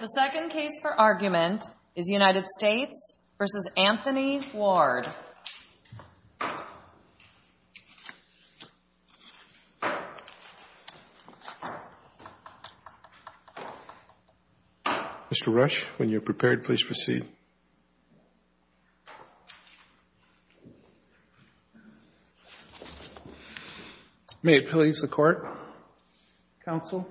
The second case for argument is United States v. Anthony Ward Mr. Rush, when you're prepared, please proceed May it please the Court, Counsel?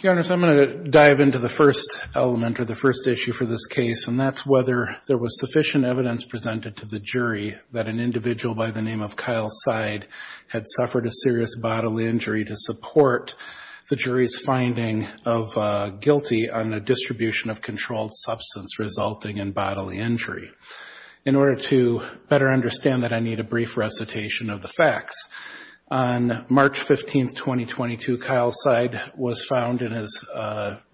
Your Honors, I'm going to dive into the first element or the first issue for this case, and that's whether there was sufficient evidence presented to the jury that an individual by the name of Kyle Seid had suffered a serious bodily injury to support the jury's finding of guilty on the distribution of controlled substance. In order to better understand that, I need a brief recitation of the facts. On March 15, 2022, Kyle Seid was found in his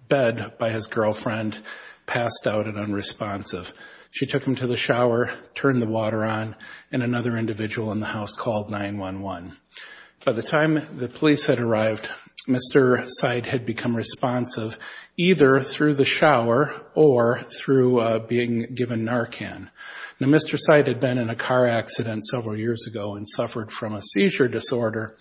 bed by his girlfriend, passed out and unresponsive. She took him to the shower, turned the water on, and another individual in the house called 911. By the time the police had arrived, Mr. Seid had become responsive either through the shower or through the door. Mr. Seid had been in a car accident several years ago and suffered from a seizure disorder.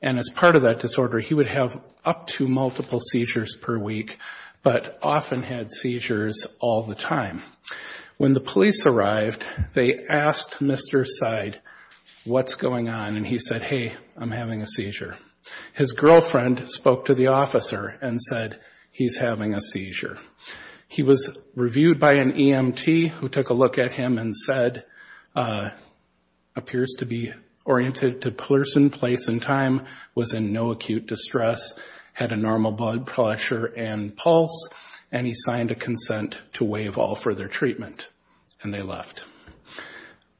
As part of that disorder, he would have up to multiple seizures per week, but often had seizures all the time. When the police arrived, they asked Mr. Seid what's going on, and he said, hey, I'm having a seizure. His girlfriend spoke to the officer and said, he's having a seizure. He was reviewed by an EMT who took a look at him and said, appears to be oriented to person, place, and time, was in no acute distress, had a normal blood pressure and pulse, and he signed a consent to waive all further treatment, and they left.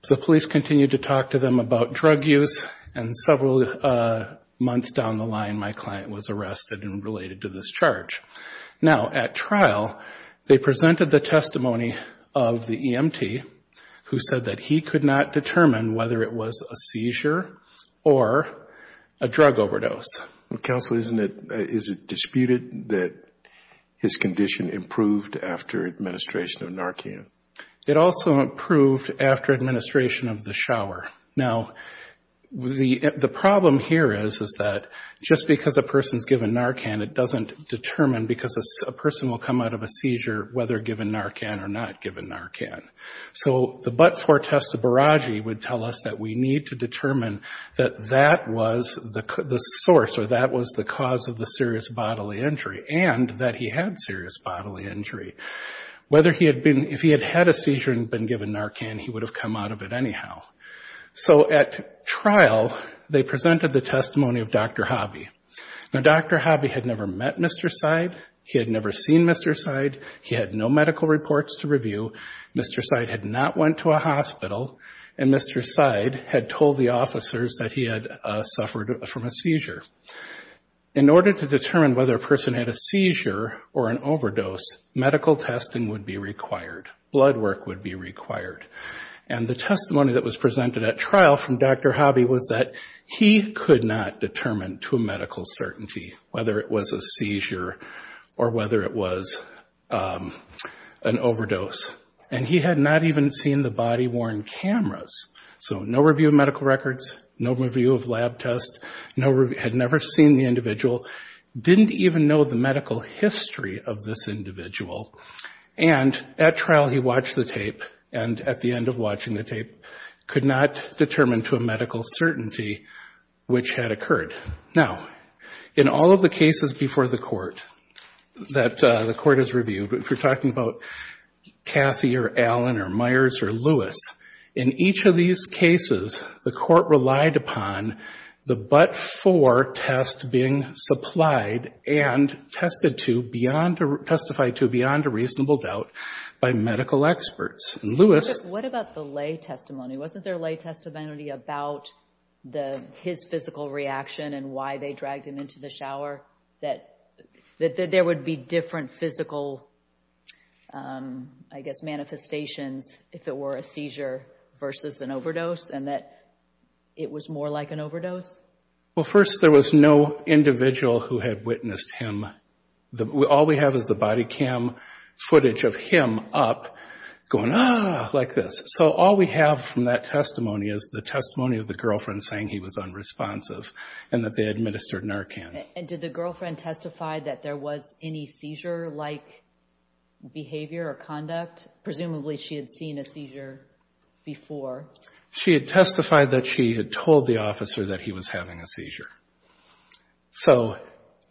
The police continued to talk to them about drug use, and several months down the line, my client was arrested and related to this charge. Now, at trial, they presented the testimony of the EMT who said that he could not determine whether it was a seizure or a drug overdose. Counsel, isn't it, is it disputed that his condition improved after administration of Narcan? It also improved after administration of the shower. Now, the problem here is that just because a person's given Narcan, it doesn't determine because a person will come out of a seizure whether given Narcan or not given Narcan. So the but-for test of Baragi would tell us that we need to determine that that was the source, or that was the cause of the serious bodily injury, and that he had serious bodily injury. Whether he had been, if he had had a seizure and been given Narcan, he would have come out of it anyhow. So at trial, they presented the testimony of Dr. Hobby. Now, Dr. Hobby had never met Mr. Seid, he had never seen Mr. Seid, he had no medical reports to review, Mr. Seid had not went to a hospital, and Mr. Seid had told the officers that he had suffered from a seizure. In order to determine whether a person had a seizure or an overdose, medical testing would be required, blood work would be required. And the testimony that was presented at trial from Dr. Hobby was that he could not determine to a medical certainty whether it was a seizure or whether it was an overdose. And he had not even seen the body-worn cameras. So no review of medical records, no review of lab tests, had never seen the individual, didn't even know the medical history of this individual. And at trial, he watched the tape, and at the end of watching the tape, could not determine to a medical certainty which had occurred. Now, in all of the cases before the court that the court has reviewed, if you're talking about Kathy or Allen or Myers or Lewis, in each of those cases, the court relied upon the but-for test being supplied and tested to beyond, testified to beyond a reasonable doubt by medical experts. And Lewis... What about the lay testimony? Wasn't there lay testimony about his physical reaction and why they dragged him into the shower, that there would be different physical, I guess, manifestations if it were a seizure versus an overdose? And that it was more like an overdose? Well, first, there was no individual who had witnessed him. All we have is the body cam footage of him up going, ah, like this. So all we have from that testimony is the testimony of the girlfriend saying he was unresponsive and that they administered Narcan. And did the girlfriend testify that there was any seizure-like behavior or conduct? Presumably she had seen a seizure before. She had testified that she had told the officer that he was having a seizure. So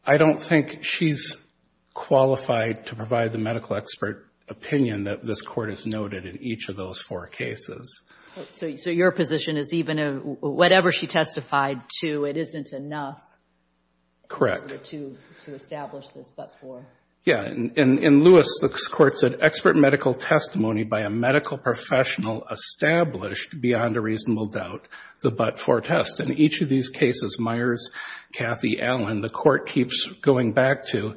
I don't think she's qualified to provide the medical expert opinion that this court has noted in each of those four cases. So your position is even whatever she testified to, it isn't enough... Correct. ...in order to establish this but-for. Yeah. In Lewis, the court said, Expert medical testimony by a medical professional established, beyond a reasonable doubt, the but-for test. In each of these cases, Myers, Cathy, Allen, the court keeps going back to,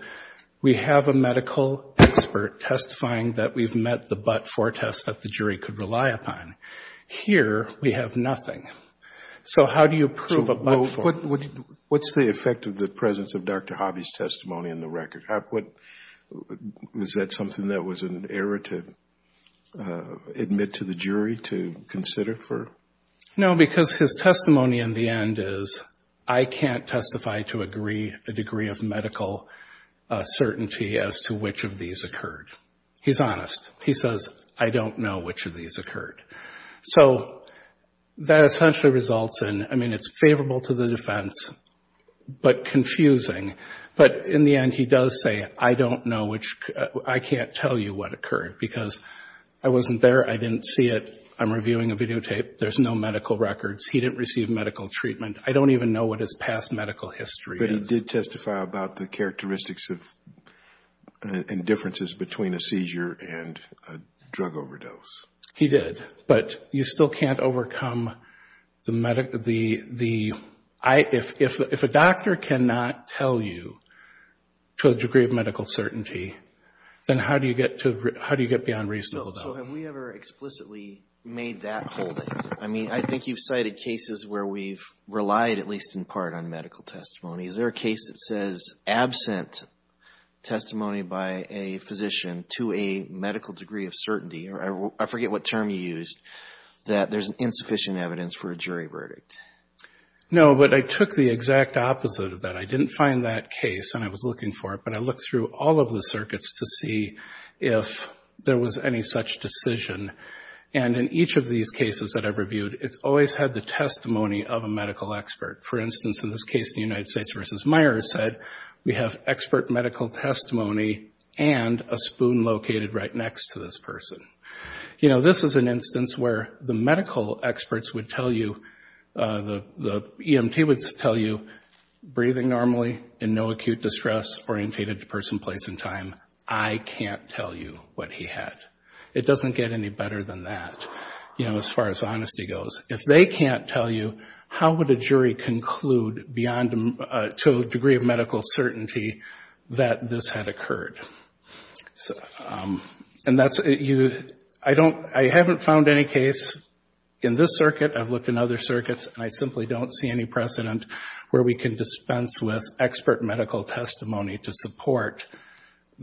we have a medical expert testifying that we've met the but-for test that the jury could rely upon. Here, we have nothing. So how do you prove a but-for? What's the effect of the presence of Dr. Hobby's testimony in the record? Was that something that was an error to admit to the jury to consider? No, because his testimony in the end is, I can't testify to agree the degree of medical certainty as to which of these occurred. He's honest. He says, I don't know which of these occurred. So that essentially results in, I mean, it's favorable to the defense, but confusing. But in the end, he does say, I don't know which, I can't tell you what occurred, because I wasn't there, I didn't see it, I'm reviewing a videotape, there's no medical records, he didn't receive medical treatment, I don't even know what his past medical history is. He did testify about the characteristics and differences between a seizure and a drug overdose. He did, but you still can't overcome the medical, if a doctor cannot tell you to a degree of medical certainty, then how do you get beyond reasonable doubt? No, so have we ever explicitly made that holding? I mean, I think you've cited cases where we've relied, at least in part, on medical testimony. Is there a case that says absent testimony by a physician to a medical degree of certainty, or I forget what term you used, that there's insufficient evidence for a jury verdict? No, but I took the exact opposite of that. I didn't find that case and I was looking for it, but I looked through all of the circuits to see if there was any such decision. And in each of these cases that I've reviewed, it's always had the testimony of a medical expert. For instance, in this case, the United States v. Myers said, we have expert medical testimony and a spoon located right next to this person. You know, this is an instance where the medical experts would tell you, the EMT would tell you, breathing normally, in no acute distress, orientated to person, place, and time. I can't tell you what he had. It doesn't get any better than that, you know, as far as honesty goes. If they can't tell you, how would a jury conclude, beyond a degree of medical certainty, that this had occurred? I haven't found any case in this circuit. I've looked in other circuits and I simply don't see any precedent where we can dispense with expert medical testimony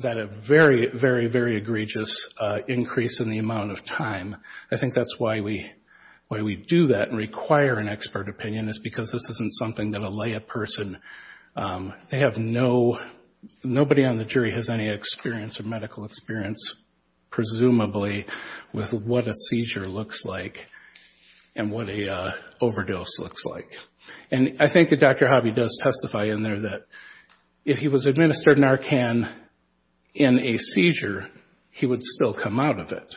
at a very, very, very egregious increase in the amount of time. I think that's why we do that and require an expert opinion, is because this isn't something that'll lay a person. They have no, nobody on the jury has any experience or medical experience, presumably, with what a seizure looks like and what a overdose looks like. And I think that Dr. Hobby does testify in there that if he was administered Narcan in a seizure, he would still come out of it.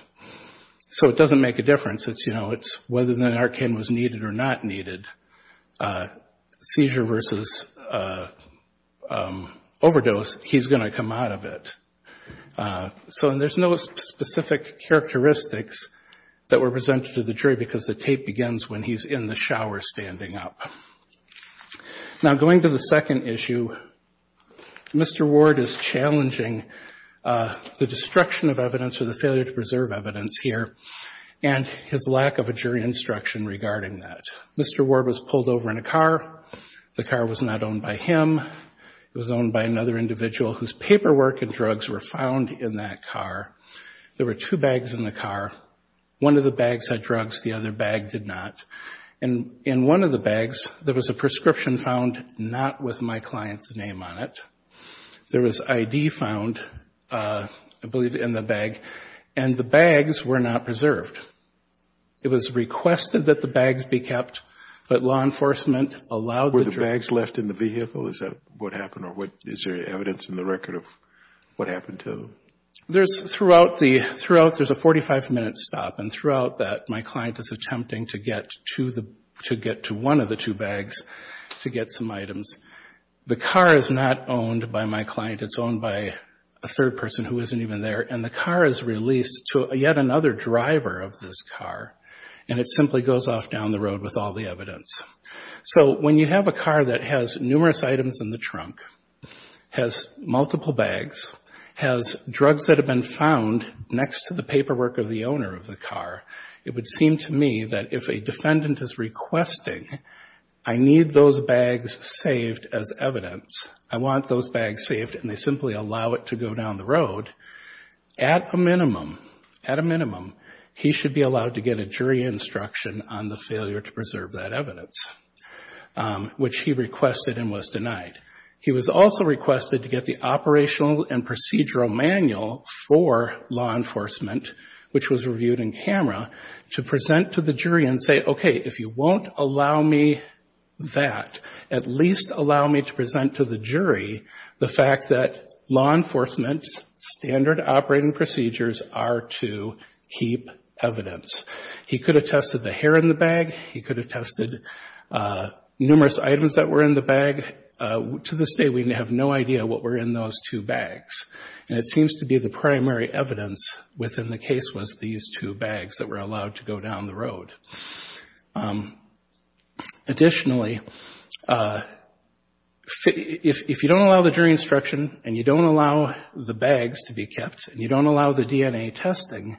So it doesn't make a difference. It's, you know, it's whether the Narcan was needed or not needed. Seizure versus overdose, he's going to come out of it. So, and there's no specific characteristics that were presented to the jury, because the tape begins when he's in the shower standing up. Now, going to the second issue, Mr. Ward is challenging the destruction of evidence or the failure to preserve evidence here, and his lack of a jury instruction regarding that. Mr. Ward was pulled over in a car. The car was not owned by him. It was owned by another individual whose paperwork and drugs were found in that car. There were two bags in the car. One of the bags had drugs, the other bag did not. And in one of the bags, there was a prescription found not with my client's name on it. There was ID found, I believe, in the bag, and the bags were not preserved. It was requested that the bags be kept, but law enforcement allowed the drugs. Were the bags left in the vehicle? Is that what happened, or is there evidence in the record of what happened to them? There's a 45-minute stop, and throughout that, my client is attempting to get to one of the two bags to get some items. The car is not owned by my client. It's owned by a third person who isn't even there, and the car is released to yet another driver of this car, and it simply goes off down the road with all the evidence. So when you have a car that has numerous items in the trunk, has multiple bags, has drugs that have been found next to the paperwork of the owner of the car, it would seem to me that if a defendant is requesting, I need those bags saved as evidence, I want those bags saved, and they simply allow it to go down the road, at a minimum, at a minimum, he should be allowed to get a jury instruction on the failure to preserve that evidence, which he requested and was denied. He was also requested to get the operational and procedural manual for law enforcement, which was reviewed in camera, to present to the jury and say, okay, if you won't allow me that, at least allow me to present to the jury the fact that law enforcement's standard operating procedures are to keep evidence. He could have tested the hair in the bag. He could have tested numerous items that were in the bag. To this day, we have no idea what were in those two bags, and it seems to be the primary evidence within the case was these two bags that were allowed to go down the road. Additionally, if you don't allow the jury instruction and you don't allow the bags to be kept and you don't allow the DNA testing,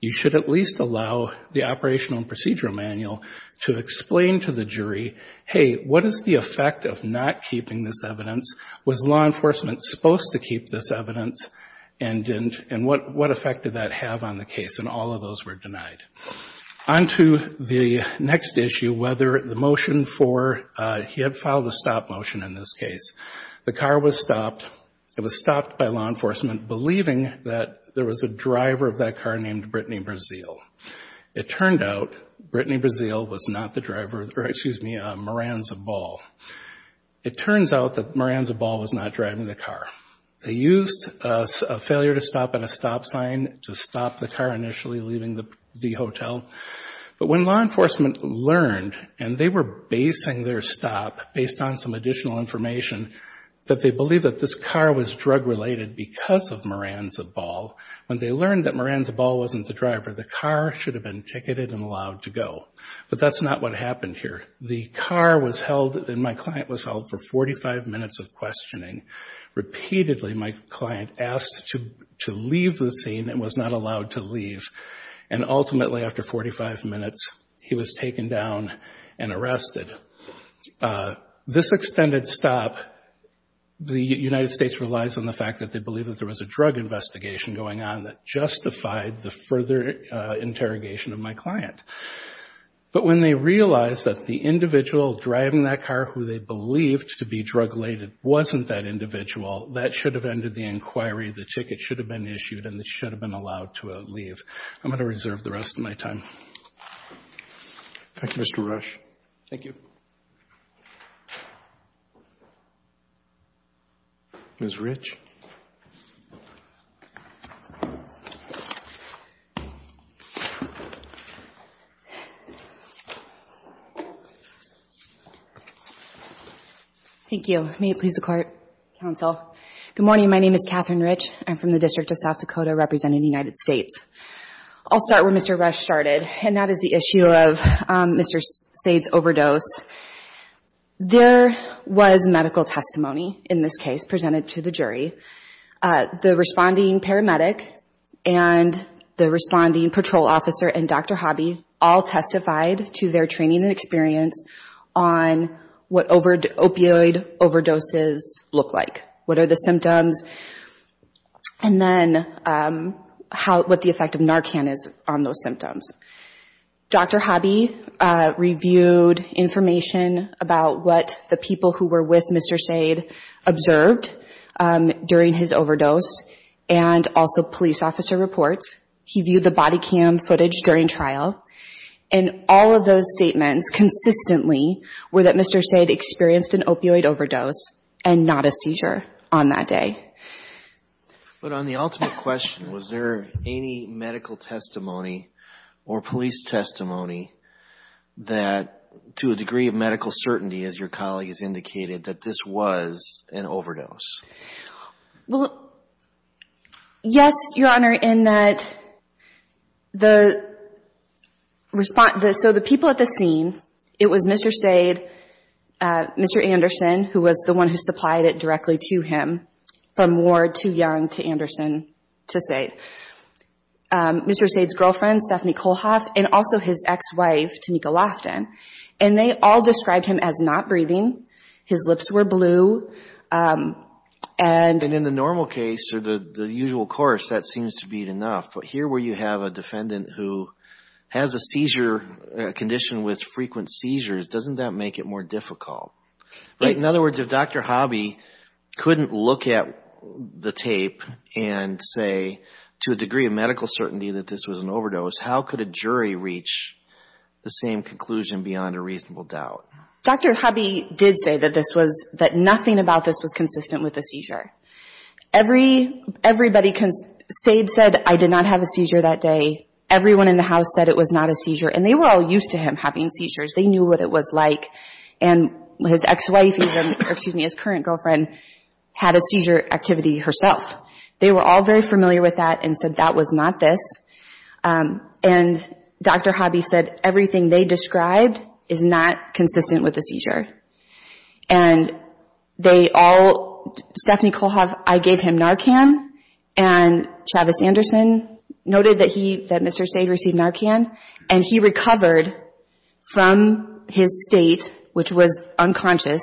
you should at least allow the operational and procedural manual to explain to the jury, hey, what is the effect of not keeping this evidence? Was law enforcement supposed to keep this evidence, and what effect did that have on the case? And all of those were denied. On to the next issue, whether the motion for he had filed a stop motion in this case. The car was stopped. It was stopped by law enforcement believing that there was a driver of that car named Brittany Brazeal. It turned out Brittany Brazeal was not the driver, or excuse me, Maranza Ball. It turns out that Maranza Ball was not driving the car. They used a failure to stop at a stop sign to stop the car initially leaving the hotel, but when law enforcement learned, and they were basing their stop based on some additional information, that they believe that this car was drug-related because of Maranza Ball, when they learned that Maranza Ball wasn't the driver, the car should have been ticketed and allowed to go. But that's not what happened here. The car was held, and my client was held for 45 minutes of questioning. Repeatedly, my client asked to leave the scene and was not allowed to leave, and ultimately, after 45 minutes, he was taken down and arrested. This extended stop, the United States relies on the fact that they believe that there was a drug investigation going on that justified the further interrogation of my client. But when they realized that the individual driving that car who they believed to be drug-related wasn't that individual, that should have ended the inquiry, the ticket should have been issued, and they should have been allowed to leave. I'm going to reserve the rest of my time. Thank you, Mr. Rush. Ms. Rich. Thank you. May it please the Court, Counsel. I'll start where Mr. Rush started, and that is the issue of Mr. Sayde's overdose. There was medical testimony in this case presented to the jury. The responding paramedic and the responding patrol officer and Dr. Hobby all testified to their training and experience on what opioid overdoses look like, what are the symptoms, and then what the effect of Narcan is on those symptoms. Dr. Hobby reviewed information about what the people who were with Mr. Sayde observed during his overdose, and also police officer reports. He viewed the body cam footage during trial, and all of those statements consistently were that Mr. Sayde experienced an opioid overdose and not a seizure on that day. But on the ultimate question, was there any medical testimony or police testimony that, to a degree of medical certainty, as your colleague has indicated, that this was an overdose? Well, yes, Your Honor, in that the response, so the people at the scene, it was Mr. Sayde, Mr. Anderson, who was the one who supplied it directly to him, from Ward to Young to Anderson to Sayde. Mr. Sayde's girlfriend, Stephanie Kohlhoff, and also his ex-wife, Tamika Loftin, and they all described him as not breathing, his lips were blue, and... And in the normal case, or the usual course, that seems to be enough, but here where you have a defendant who has a seizure condition with frequent seizures, doesn't that make it more difficult? In other words, if Dr. Hobby couldn't look at the tape and say, to a degree of medical certainty, that this was an overdose, how could a jury reach the same conclusion beyond a reasonable doubt? Dr. Hobby did say that this was, that nothing about this was consistent with a seizure. Everybody, Sayde said, I did not have a seizure that day. Everyone in the house said it was not a seizure, and they were all used to him having seizures. They knew what it was like. And his ex-wife, or excuse me, his current girlfriend, had a seizure activity herself. They were all very familiar with that and said that was not this. And Dr. Hobby said everything they described is not consistent with a seizure. And they all, Stephanie Kolhoff, I gave him Narcan, and Travis Anderson noted that Mr. Sayde received Narcan, and he recovered from his state, which was unconscious,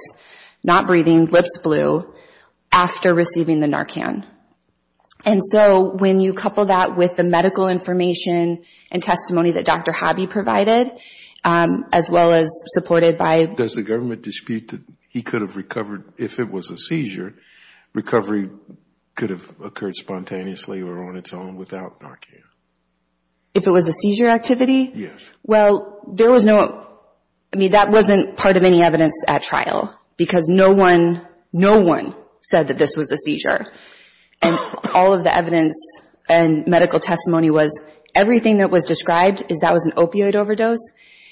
not breathing, lips blue, after receiving the Narcan. And so when you couple that with the medical information and testimony that Dr. Hobby provided, as well as supported by... There was no dispute that he could have recovered if it was a seizure. Recovery could have occurred spontaneously or on its own without Narcan. If it was a seizure activity? Yes. Well, there was no, I mean, that wasn't part of any evidence at trial, because no one, no one said that this was a seizure. And all of the evidence and medical testimony was, everything that was described is that was an opioid overdose.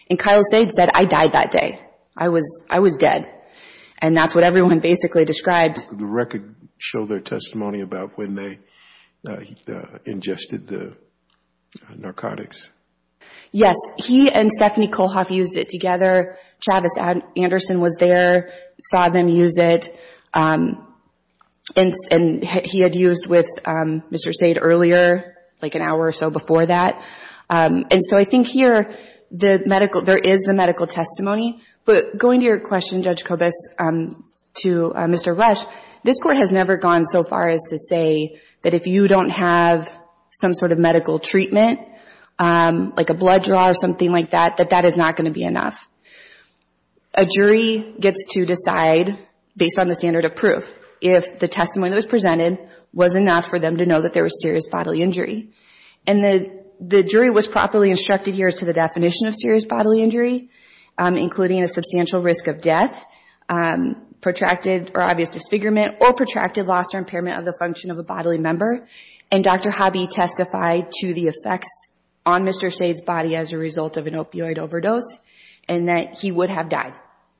And Kyle Sayde said, I died that day. I was dead. And that's what everyone basically described. Could the record show their testimony about when they ingested the narcotics? Yes. He and Stephanie Kolhoff used it together. Travis Anderson was there, saw them use it. And he had used with Mr. Sayde earlier, like an hour or so before that. And so I think here, the medical, there is the medical testimony. But going to your question, Judge Kobus, to Mr. Rush, this Court has never gone so far as to say that if you don't have some sort of medical treatment, like a blood draw or something like that, that that is not going to be enough. A jury gets to decide, based on the standard of proof, if the testimony that was presented was enough for them to know that there was serious bodily injury. And the jury was properly instructed here as to the definition of serious bodily injury, including a substantial risk of death, protracted or obvious disfigurement, or protracted loss or impairment of the function of a bodily member. And Dr. Hobby testified to the effects on Mr. Sayde's body as a result of an opioid overdose. And that he would have died,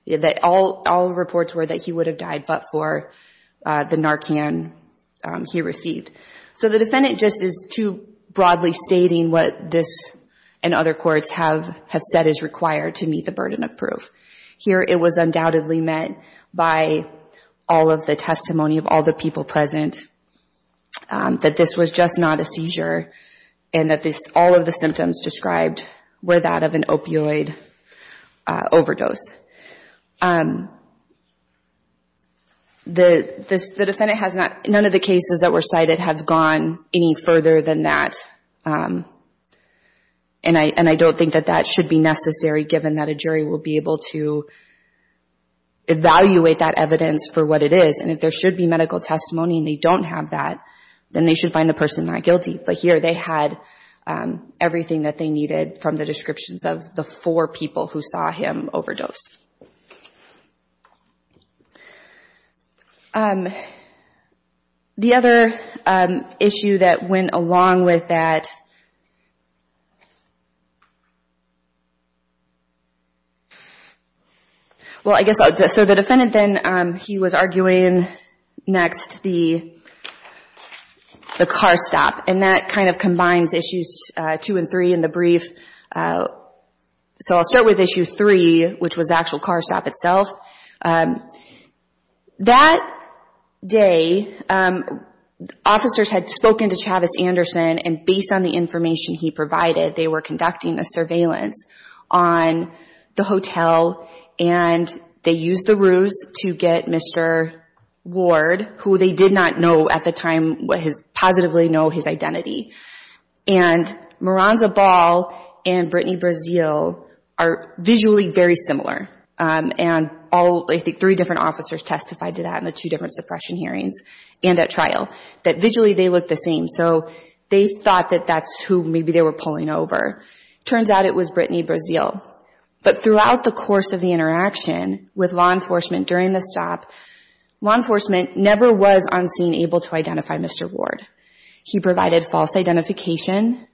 that all reports were that he would have died but for the Narcan he received. So the defendant just is too broadly stating what this and other courts have said is required to meet the burden of proof. Here it was undoubtedly met by all of the testimony of all the people present, that this was just not a seizure, and that all of the symptoms described were that of an opioid overdose. The defendant has not, none of the cases that were cited have gone any further than that. And I don't think that that should be necessary, given that a jury will be able to evaluate that evidence for what it is. And if there should be medical testimony and they don't have that, then they should find the person not guilty. But here they had everything that they needed from the descriptions of the four people who saw him overdose. The other issue that went along with that... Well, I guess, so the defendant then, he was arguing next the car stop. And that kind of combines issues two and three in the brief. So I'll start with issue three, which was the actual car stop itself. That day, officers had spoken to Travis Anderson, and based on the information he provided, they were conducting a surveillance on the hotel, and they used the ruse to get Mr. Ward, who they did not know at the time, positively know his identity. And Maranza Ball and Brittany Brazil are visually very similar. And all, I think, three different officers testified to that in the two different suppression hearings and at trial, that visually they looked the same, so they thought that that's who maybe they were pulling over. Turns out it was Brittany Brazil. But throughout the course of the interaction with law enforcement during the stop, law enforcement never was on scene able to identify Mr. Ward. He provided false identification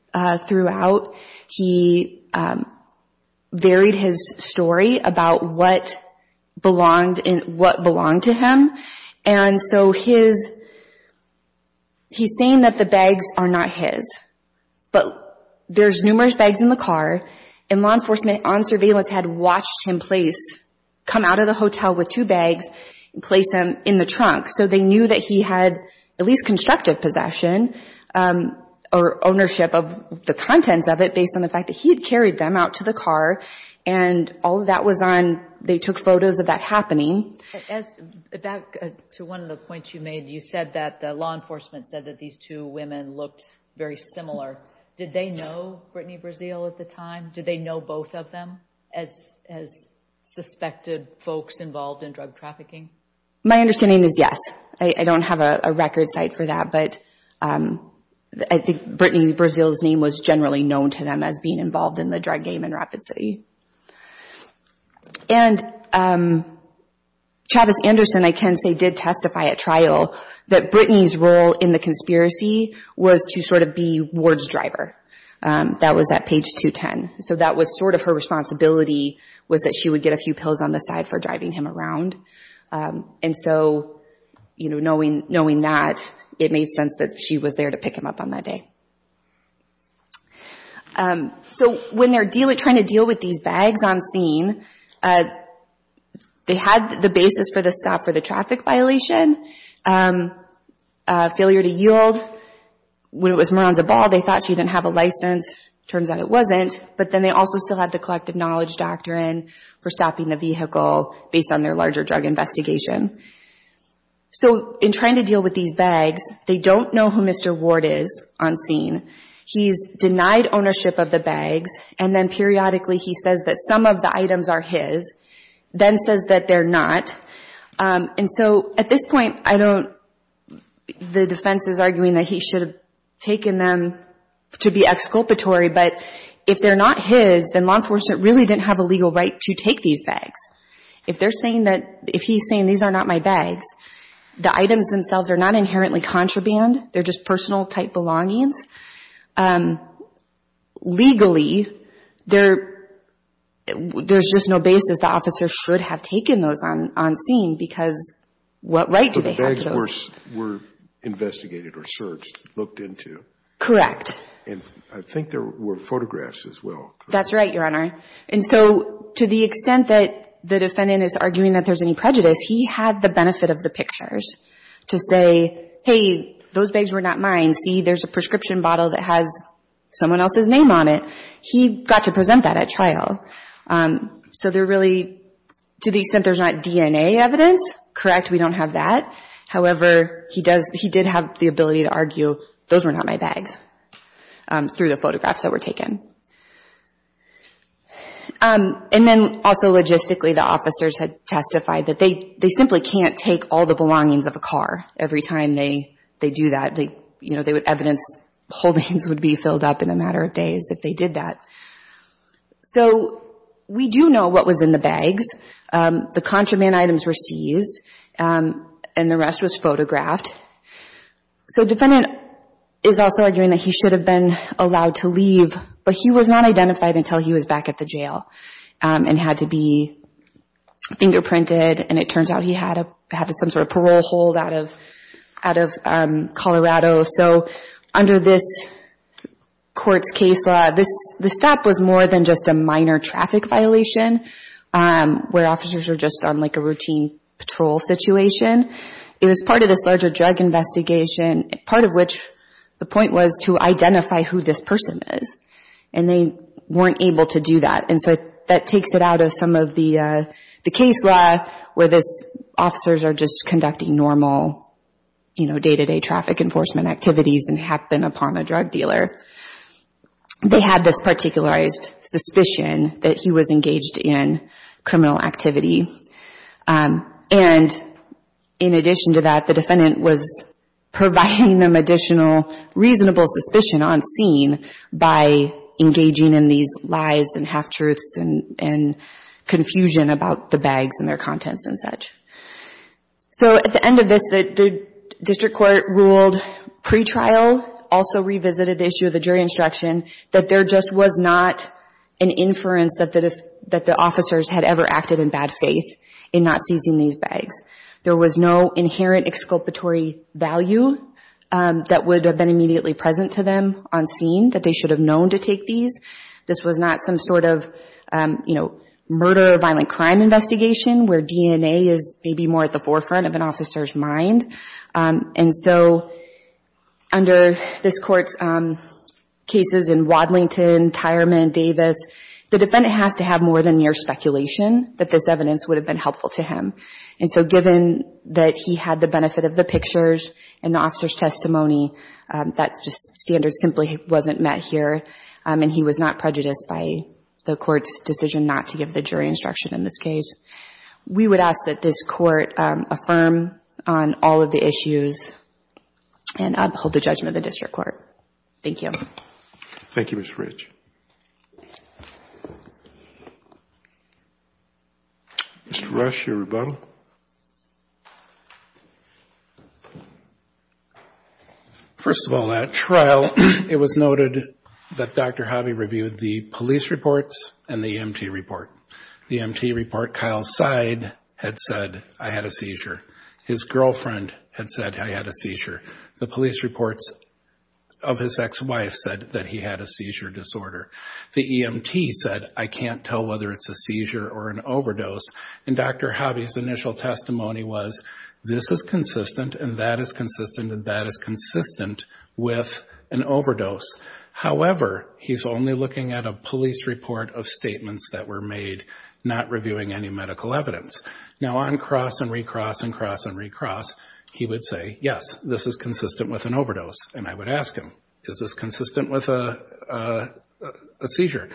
throughout. He buried his story about what belonged to him. And so his, he's saying that the bags are not his. But there's numerous bags in the car, and law enforcement on surveillance had watched him place, come out of the hotel with two bags and place them in the trunk, so they knew that he had at least constructive possession or ownership of the contents of it based on the fact that he had carried them out to the car. And all of that was on, they took photos of that happening. As, back to one of the points you made, you said that the law enforcement said that these two women looked very similar. Did they know Brittany Brazil at the time? Did they know both of them as suspected folks involved in drug trafficking? My understanding is yes. I don't have a record site for that, but I think Brittany Brazil's name was generally known to them as being involved in the drug game in Rapid City. And Travis Anderson, I can say, did testify at trial that Brittany's role in the conspiracy was to sort of be Ward's driver. That was at page 210. So that was sort of her responsibility, was that she would get a few pills on the side for driving him around. And so, you know, knowing that, it made sense that she was there to pick him up on that day. So when they're dealing, trying to deal with these bags on scene, they had the basis for the stop for the traffic violation, failure to yield. When it was Maranza Ball, they thought she didn't have a license. Turns out it wasn't. But then they also still had the collective knowledge doctrine for stopping the vehicle based on their larger drug investigation. So in trying to deal with these bags, they don't know who Mr. Ward is on scene. He's denied ownership of the bags, and then periodically he says that some of the items are his, then says that they're not. And so at this point, I don't, the defense is arguing that he should have taken them to be exculpatory, but if they're not his, then law enforcement really didn't have a legal right to take these bags. If they're saying that, if he's saying these are not my bags, the items themselves are not inherently contraband, they're just personal type belongings. Legally, there's just no basis that officers should have taken those on scene, because what right do they have to those? But the bags were investigated or searched, looked into. Correct. And I think there were photographs as well. That's right, Your Honor. And so to the extent that the defendant is arguing that there's any prejudice, he had the benefit of the pictures to say, hey, those bags were not mine, see, there's a prescription bottle that has someone else's name on it. He got to present that at trial. So they're really, to the extent there's not DNA evidence, correct, we don't have that. However, he did have the ability to argue those were not my bags through the photographs that were taken. And then also logistically, the officers had testified that they simply can't take all the belongings of a car every time they do that. Evidence holdings would be filled up in a matter of days if they did that. So we do know what was in the bags. The contraband items were seized, and the rest was photographed. So the defendant is also arguing that he should have been allowed to leave, but he was not identified until he was back at the jail and had to be fingerprinted, and it turns out he had some sort of parole hold out of Colorado. So under this court's case law, the stop was more than just a minor traffic violation where officers are just on like a routine patrol situation. It was part of this larger drug investigation, part of which the point was to identify who this person is, and they weren't able to do that. And so that takes it out of some of the case law where these officers are just conducting normal day-to-day traffic enforcement activities and happen upon a drug dealer. They had this particularized suspicion that he was engaged in criminal activity, and in addition to that, the defendant was providing them additional reasonable suspicion on scene by engaging in these lies and half-truths and confusion about the bags and their contents and such. So at the end of this, the district court ruled pre-trial, also revisited the issue of the jury instruction, that there just was not an inference that the officers had ever acted in bad faith in not seizing these bags. There was no inherent exculpatory value that would have been immediately present to them on scene, that they should have known to take these. This was not some sort of, you know, murder or violent crime investigation where DNA is maybe more at the forefront of an officer's mind. And so under this Court's cases in Wadlington, Tyrement, Davis, the defendant has to have more than mere speculation that this evidence would have been helpful to him. And so given that he had the benefit of the pictures and the officer's testimony, that standard simply wasn't met here, and he was not prejudiced by the Court's decision not to give the jury instruction in this case. We would ask that this Court affirm on all of the issues and uphold the judgment of the district court. Thank you. Thank you, Ms. Rich. Mr. Rush, your rebuttal. First of all, at trial, it was noted that Dr. Hobby reviewed the police reports and the EMT report. The EMT report, Kyle's side had said, I had a seizure. His girlfriend had said, I had a seizure. The police reports of his ex-wife said that he had a seizure disorder. The EMT said, I can't tell whether it's a seizure or an overdose. And Dr. Hobby's initial testimony was, this is consistent, and that is consistent, and that is consistent with an overdose. However, he's only looking at a police report of statements that were made, not reviewing any medical evidence. Now, on cross and recross and cross and recross, he would say, yes, this is consistent with an overdose. And I would ask him, is this consistent with a seizure?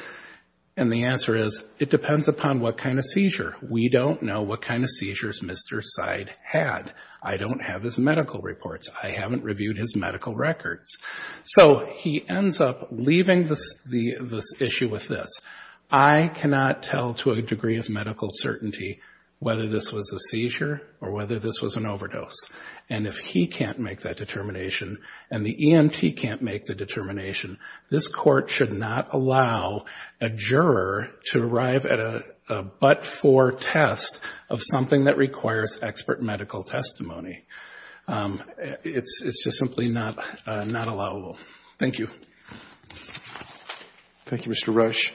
And the answer is, it depends upon what kind of seizure. We don't know what kind of seizures Mr. Seid had. I don't have his medical reports. I haven't reviewed his medical records. So he ends up leaving this issue with this. I cannot tell to a degree of medical certainty whether this was a seizure or whether this was an overdose. And if he can't make that determination and the EMT can't make the determination, this Court should not allow a juror to arrive at a but-for test of something that requires expert medical testimony. It's just simply not allowable. Thank you. Thank you, Mr. Rush.